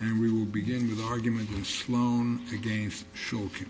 And we will begin with the argument of Sloan v. Shulkin.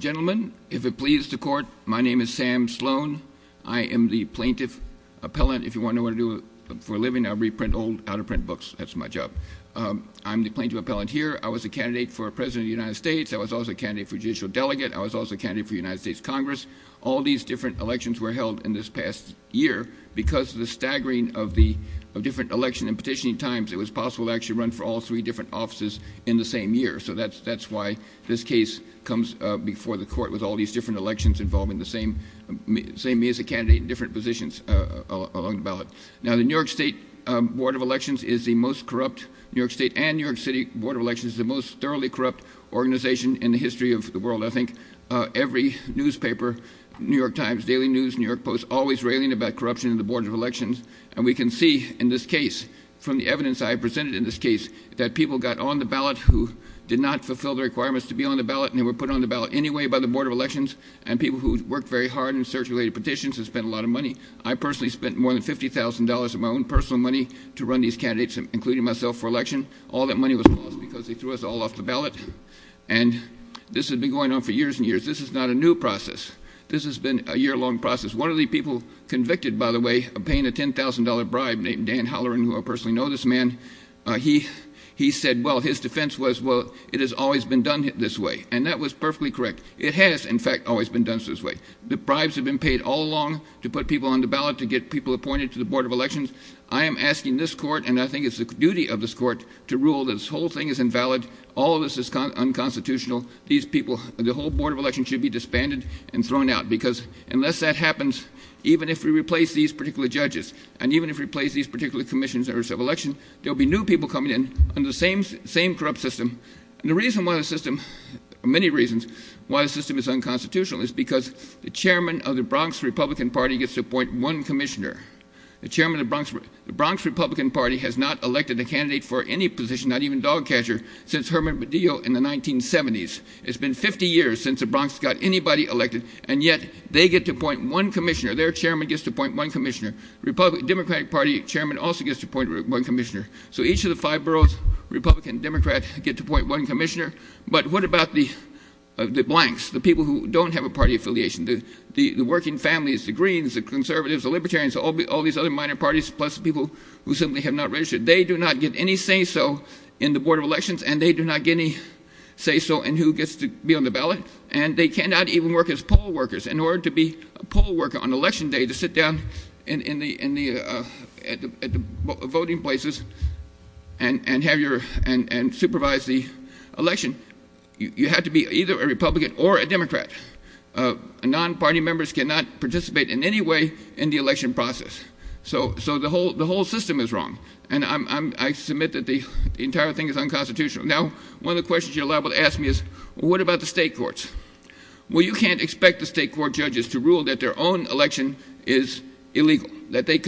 Gentlemen, if it pleases the Court, my name is Sam Sloan. I am the Plaintiff Appellant. If you want to know what I do for a living, I reprint old, out-of-print books. That's my job. I'm the Plaintiff Appellant here. I was a candidate for President of the United States. I was also a candidate for Judicial Delegate. I was also a candidate for the United States Congress. All these different elections were held in this past year. Because of the staggering of the different election and petitioning times, it was possible to actually run for all three different offices in the same year. So that's why this case comes before the Court with all these different elections involving the same candidate in different positions along the ballot. Now, the New York State Board of Elections is the most corrupt. New York State and New York City Board of Elections is the most thoroughly corrupt organization in the history of the world, I think. Every newspaper, New York Times, Daily News, New York Post, always railing about corruption in the Board of Elections. And we can see in this case, from the evidence I presented in this case, that people got on the ballot who did not fulfill the requirements to be on the ballot, and they were put on the ballot anyway by the Board of Elections, and people who worked very hard in search-related petitions and spent a lot of money. I personally spent more than $50,000 of my own personal money to run these candidates, including myself, for election. All that money was lost because they threw us all off the ballot. And this has been going on for years and years. This is not a new process. This has been a year-long process. One of the people convicted, by the way, of paying a $10,000 bribe named Dan Halloran, who I personally know this man, he said, well, his defense was, well, it has always been done this way. And that was perfectly correct. It has, in fact, always been done this way. The bribes have been paid all along to put people on the ballot, to get people appointed to the Board of Elections. I am asking this court, and I think it's the duty of this court, to rule that this whole thing is invalid, all of this is unconstitutional, these people, the whole Board of Elections should be disbanded and thrown out. Because unless that happens, even if we replace these particular judges, and even if we replace these particular commissions of election, there will be new people coming in under the same corrupt system. And the reason why the system, many reasons, why the system is unconstitutional is because the chairman of the Bronx Republican Party gets to appoint one commissioner. The chairman of the Bronx Republican Party has not elected a candidate for any position, not even dog catcher, since Herman Medeo in the 1970s. It's been 50 years since the Bronx got anybody elected, and yet they get to appoint one commissioner. Their chairman gets to appoint one commissioner. The Democratic Party chairman also gets to appoint one commissioner. So each of the five boroughs, Republican, Democrat, get to appoint one commissioner. But what about the blanks, the people who don't have a party affiliation, the working families, the Greens, the Conservatives, the Libertarians, all these other minor parties, plus people who simply have not registered? They do not get any say-so in the Board of Elections, and they do not get any say-so in who gets to be on the ballot. And they cannot even work as poll workers. In order to be a poll worker on election day, to sit down at the voting places and supervise the election, you have to be either a Republican or a Democrat. Non-party members cannot participate in any way in the election process. So the whole system is wrong, and I submit that the entire thing is unconstitutional. Now, one of the questions you're liable to ask me is, well, what about the state courts? Well, you can't expect the state court judges to rule that their own election is illegal, that the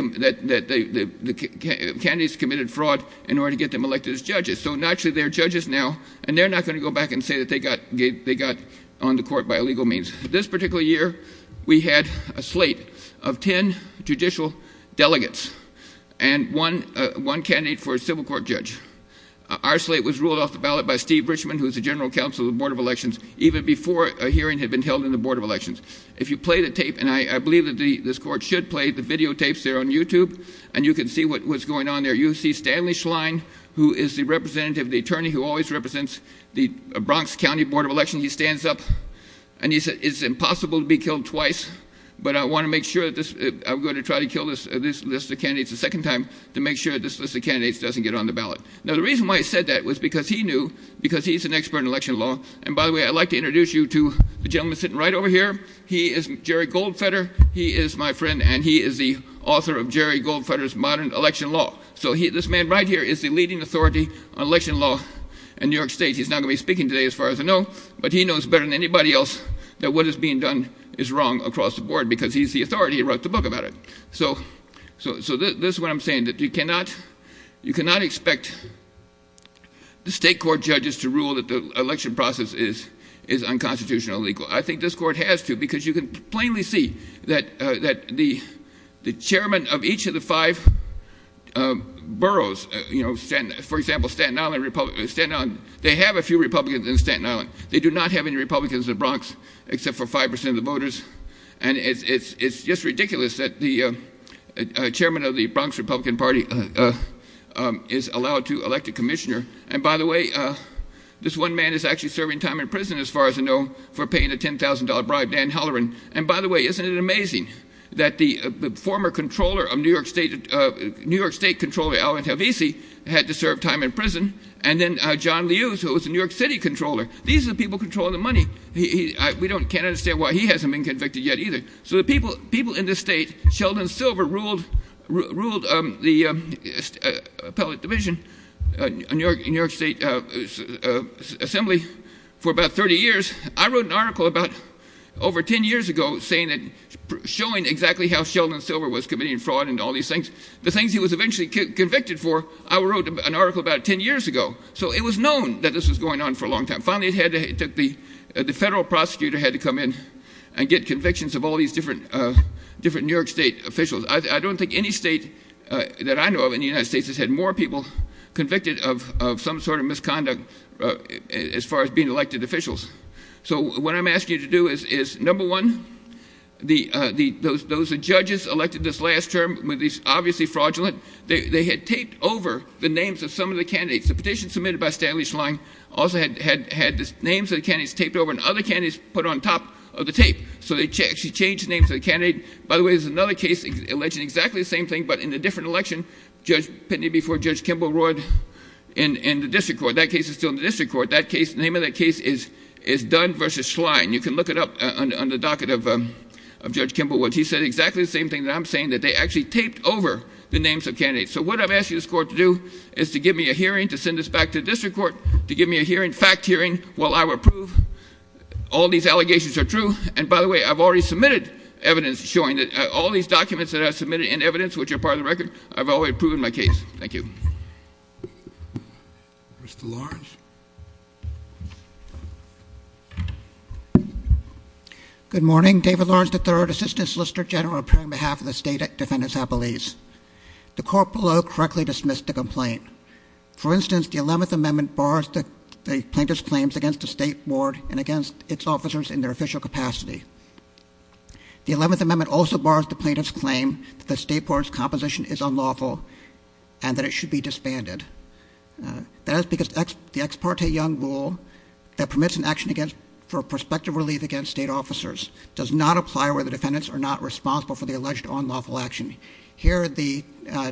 candidates committed fraud in order to get them elected as judges. So naturally, they're judges now, and they're not going to go back and say that they got on the court by illegal means. This particular year, we had a slate of 10 judicial delegates and one candidate for a civil court judge. Our slate was ruled off the ballot by Steve Richman, who is the general counsel of the Board of Elections, even before a hearing had been held in the Board of Elections. If you play the tape, and I believe that this court should play the videotapes there on YouTube, and you can see what's going on there. You see Stanley Schlein, who is the representative, the attorney who always represents the Bronx County Board of Elections. He stands up, and he said, it's impossible to be killed twice, but I want to make sure that this – I'm going to try to kill this list of candidates a second time to make sure this list of candidates doesn't get on the ballot. Now, the reason why he said that was because he knew, because he's an expert in election law. And by the way, I'd like to introduce you to the gentleman sitting right over here. He is Jerry Goldfeder. He is my friend, and he is the author of Jerry Goldfeder's Modern Election Law. So this man right here is the leading authority on election law in New York State. He's not going to be speaking today, as far as I know, but he knows better than anybody else that what is being done is wrong across the board, because he's the authority. He wrote the book about it. So this is what I'm saying, that you cannot expect the state court judges to rule that the election process is unconstitutional or legal. I think this court has to, because you can plainly see that the chairman of each of the five boroughs, for example, Staten Island, they have a few Republicans in Staten Island. They do not have any Republicans in the Bronx, except for 5% of the voters. And it's just ridiculous that the chairman of the Bronx Republican Party is allowed to elect a commissioner. And by the way, this one man is actually serving time in prison, as far as I know, for paying a $10,000 bribe, Dan Halloran. And by the way, isn't it amazing that the former controller of New York State, New York State Comptroller, had to serve time in prison, and then John Lewis, who was the New York City Comptroller. These are the people controlling the money. We can't understand why he hasn't been convicted yet either. So the people in this state, Sheldon Silver ruled the appellate division in New York State Assembly for about 30 years. I wrote an article about over 10 years ago showing exactly how Sheldon Silver was committing fraud and all these things. The things he was eventually convicted for, I wrote an article about 10 years ago. So it was known that this was going on for a long time. Finally, the federal prosecutor had to come in and get convictions of all these different New York State officials. I don't think any state that I know of in the United States has had more people convicted of some sort of misconduct as far as being elected officials. So what I'm asking you to do is, number one, those judges elected this last term were obviously fraudulent. They had taped over the names of some of the candidates. The petition submitted by Stanley Schlang also had the names of the candidates taped over and other candidates put on top of the tape. So they actually changed the names of the candidates. By the way, there's another case alleging exactly the same thing, but in a different election. Judge Pitney before Judge Kimball roared in the district court. That case is still in the district court. The name of that case is Dunn versus Schlang. You can look it up on the docket of Judge Kimball. He said exactly the same thing that I'm saying, that they actually taped over the names of candidates. So what I'm asking this court to do is to give me a hearing, to send this back to the district court, to give me a hearing, fact hearing, while I approve all these allegations are true. And by the way, I've already submitted evidence showing that all these documents that I've submitted in evidence, which are part of the record, I've already approved in my case. Thank you. Mr. Lawrence. Good morning. David Lawrence III, Assistant Solicitor General appearing on behalf of the State Defendant's Appellees. The court below correctly dismissed the complaint. For instance, the 11th Amendment bars the plaintiff's claims against the State Board and against its officers in their official capacity. The 11th Amendment also bars the plaintiff's claim that the State Board's composition is unlawful and that it should be disbanded. That is because the Ex Parte Young Rule that permits an action for prospective relief against state officers does not apply where the defendants are not responsible for the alleged unlawful action. Here, the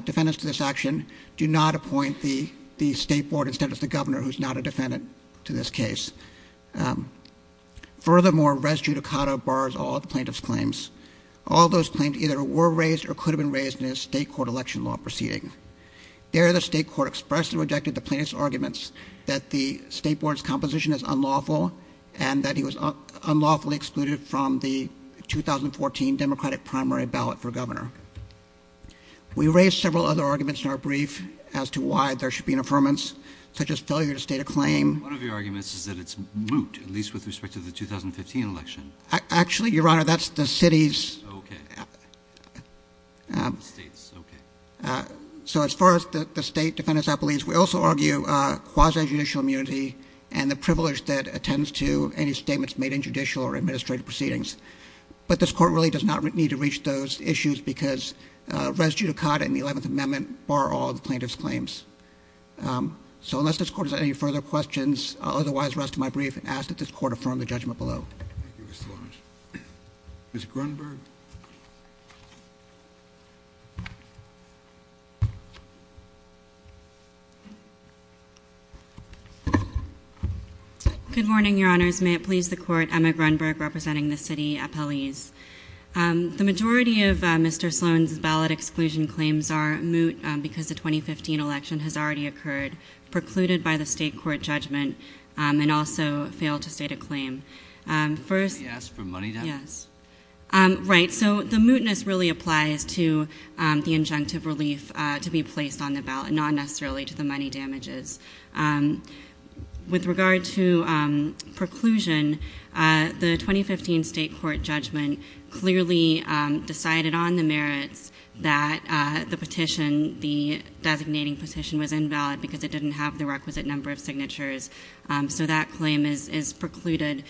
defendants to this action do not appoint the State Board instead of the governor, who is not a defendant to this case. Furthermore, Res Judicata bars all of the plaintiff's claims. All those claims either were raised or could have been raised in a state court election law proceeding. There, the state court expressed and rejected the plaintiff's arguments that the State Board's composition is unlawful and that it was unlawfully excluded from the 2014 Democratic primary ballot for governor. We raised several other arguments in our brief as to why there should be an affirmance, such as failure to state a claim. One of your arguments is that it's moot, at least with respect to the 2015 election. Actually, Your Honor, that's the city's. Okay. The state's. Okay. So as far as the state defendants, I believe, we also argue quasi-judicial immunity and the privilege that attends to any statements made in judicial or administrative proceedings. But this court really does not need to reach those issues because Res Judicata and the 11th Amendment bar all of the plaintiff's claims. So unless this court has any further questions, I'll otherwise rest my brief and ask that this court affirm the judgment below. Ms. Grunberg. Good morning, Your Honors. May it please the court, Emma Grunberg representing the city appellees. The majority of Mr. Sloan's ballot exclusion claims are moot because the 2015 election has already occurred, precluded by the state court judgment, and also failed to state a claim. First- Did he ask for money damages? Yes. Right. So the mootness really applies to the injunctive relief to be placed on the ballot, not necessarily to the money damages. With regard to preclusion, the 2015 state court judgment clearly decided on the merits that the petition, the designating petition, was invalid because it didn't have the requisite number of signatures. So that claim is precluded,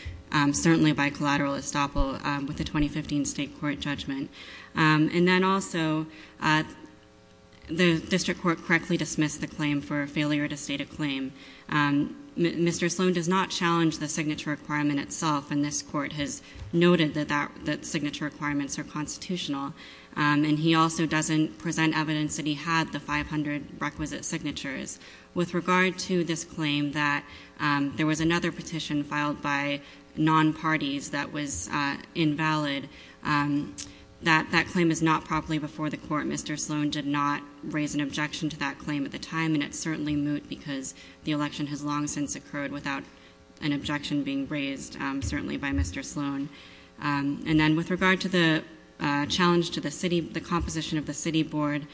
certainly by collateral estoppel, with the 2015 state court judgment. And then also, the district court correctly dismissed the claim for failure to state a claim. Mr. Sloan does not challenge the signature requirement itself, and this court has noted that signature requirements are constitutional. And he also doesn't present evidence that he had the 500 requisite signatures. With regard to this claim that there was another petition filed by non-parties that was invalid, that claim is not properly before the court. Mr. Sloan did not raise an objection to that claim at the time, and it's certainly moot because the election has long since occurred without an objection being raised, certainly by Mr. Sloan. And then with regard to the challenge to the composition of the city board,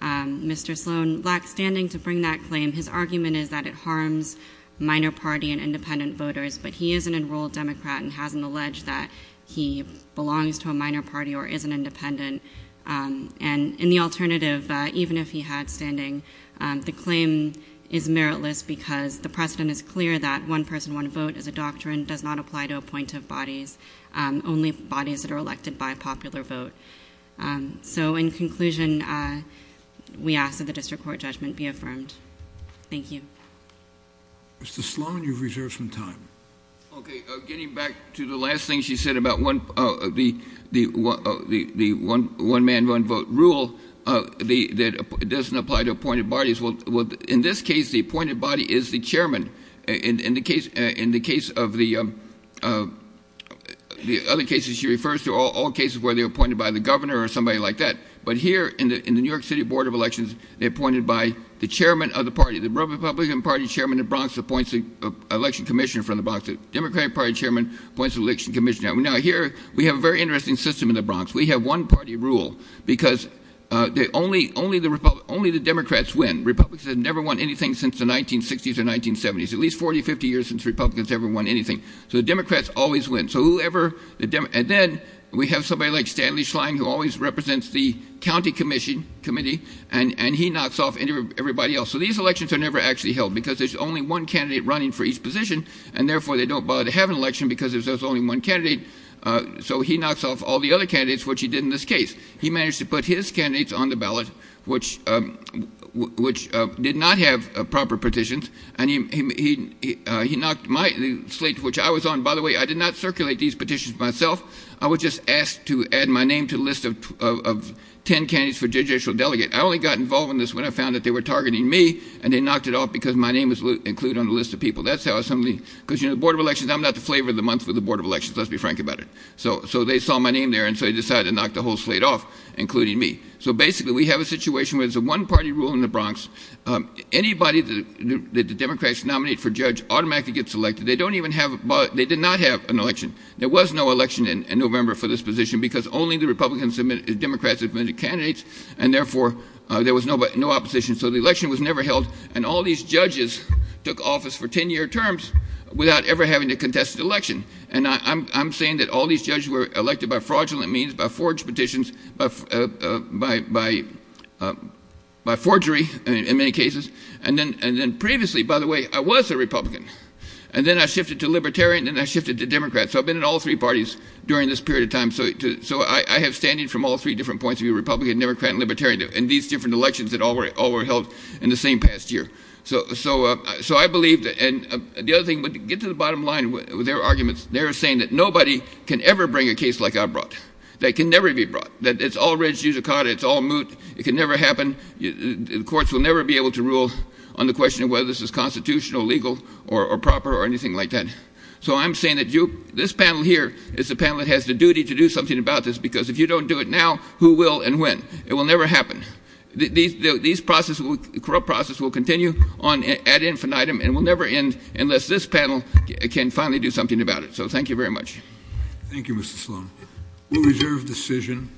Mr. Sloan lacks standing to bring that claim. His argument is that it harms minor party and independent voters, but he is an enrolled Democrat and hasn't alleged that he belongs to a minor party or isn't independent. And in the alternative, even if he had standing, the claim is meritless because the precedent is clear that one person, one vote as a doctrine does not apply to appointive bodies, only bodies that are elected by popular vote. So in conclusion, we ask that the district court judgment be affirmed. Thank you. Mr. Sloan, you've reserved some time. Okay. Getting back to the last thing she said about the one-man, one-vote rule that doesn't apply to appointed bodies. Well, in this case, the appointed body is the chairman. In the case of the other cases she refers to, all cases where they're appointed by the governor or somebody like that. But here in the New York City Board of Elections, they're appointed by the chairman of the party, the Republican Party chairman of the Bronx appoints an election commissioner from the Bronx. The Democratic Party chairman appoints an election commissioner. Now, here we have a very interesting system in the Bronx. We have one-party rule because only the Democrats win. Republicans have never won anything since the 1960s or 1970s, at least 40, 50 years since Republicans ever won anything. So the Democrats always win. And then we have somebody like Stanley Schlein who always represents the county commission committee, and he knocks off everybody else. So these elections are never actually held because there's only one candidate running for each position, and therefore they don't bother to have an election because there's only one candidate. So he knocks off all the other candidates, which he did in this case. He managed to put his candidates on the ballot, which did not have proper petitions, and he knocked my slate, which I was on. By the way, I did not circulate these petitions myself. I was just asked to add my name to the list of ten candidates for judicial delegate. I only got involved in this when I found that they were targeting me, and they knocked it off because my name was included on the list of people. That's how somebody – because, you know, the Board of Elections, I'm not the flavor of the month for the Board of Elections, let's be frank about it. So they saw my name there, and so they decided to knock the whole slate off, including me. So basically we have a situation where it's a one-party rule in the Bronx. Anybody that the Democrats nominate for judge automatically gets elected. They don't even have – they did not have an election. There was no election in November for this position because only the Republicans and Democrats submitted candidates, and therefore there was no opposition. So the election was never held, and all these judges took office for ten-year terms without ever having to contest the election. And I'm saying that all these judges were elected by fraudulent means, by forged petitions, by forgery in many cases. And then previously, by the way, I was a Republican, and then I shifted to Libertarian, and then I shifted to Democrat. So I've been in all three parties during this period of time. So I have standing from all three different points of view, Republican, Democrat, and Libertarian, in these different elections that all were held in the same past year. So I believe – and the other thing, but to get to the bottom line with their arguments, they're saying that nobody can ever bring a case like I brought. That can never be brought. That it's all reg, it's all moot. It can never happen. The courts will never be able to rule on the question of whether this is constitutional, legal, or proper, or anything like that. So I'm saying that this panel here is the panel that has the duty to do something about this, because if you don't do it now, who will and when? It will never happen. These corrupt processes will continue on ad infinitum and will never end unless this panel can finally do something about it. So thank you very much. Thank you, Mr. Sloan. We'll reserve decision.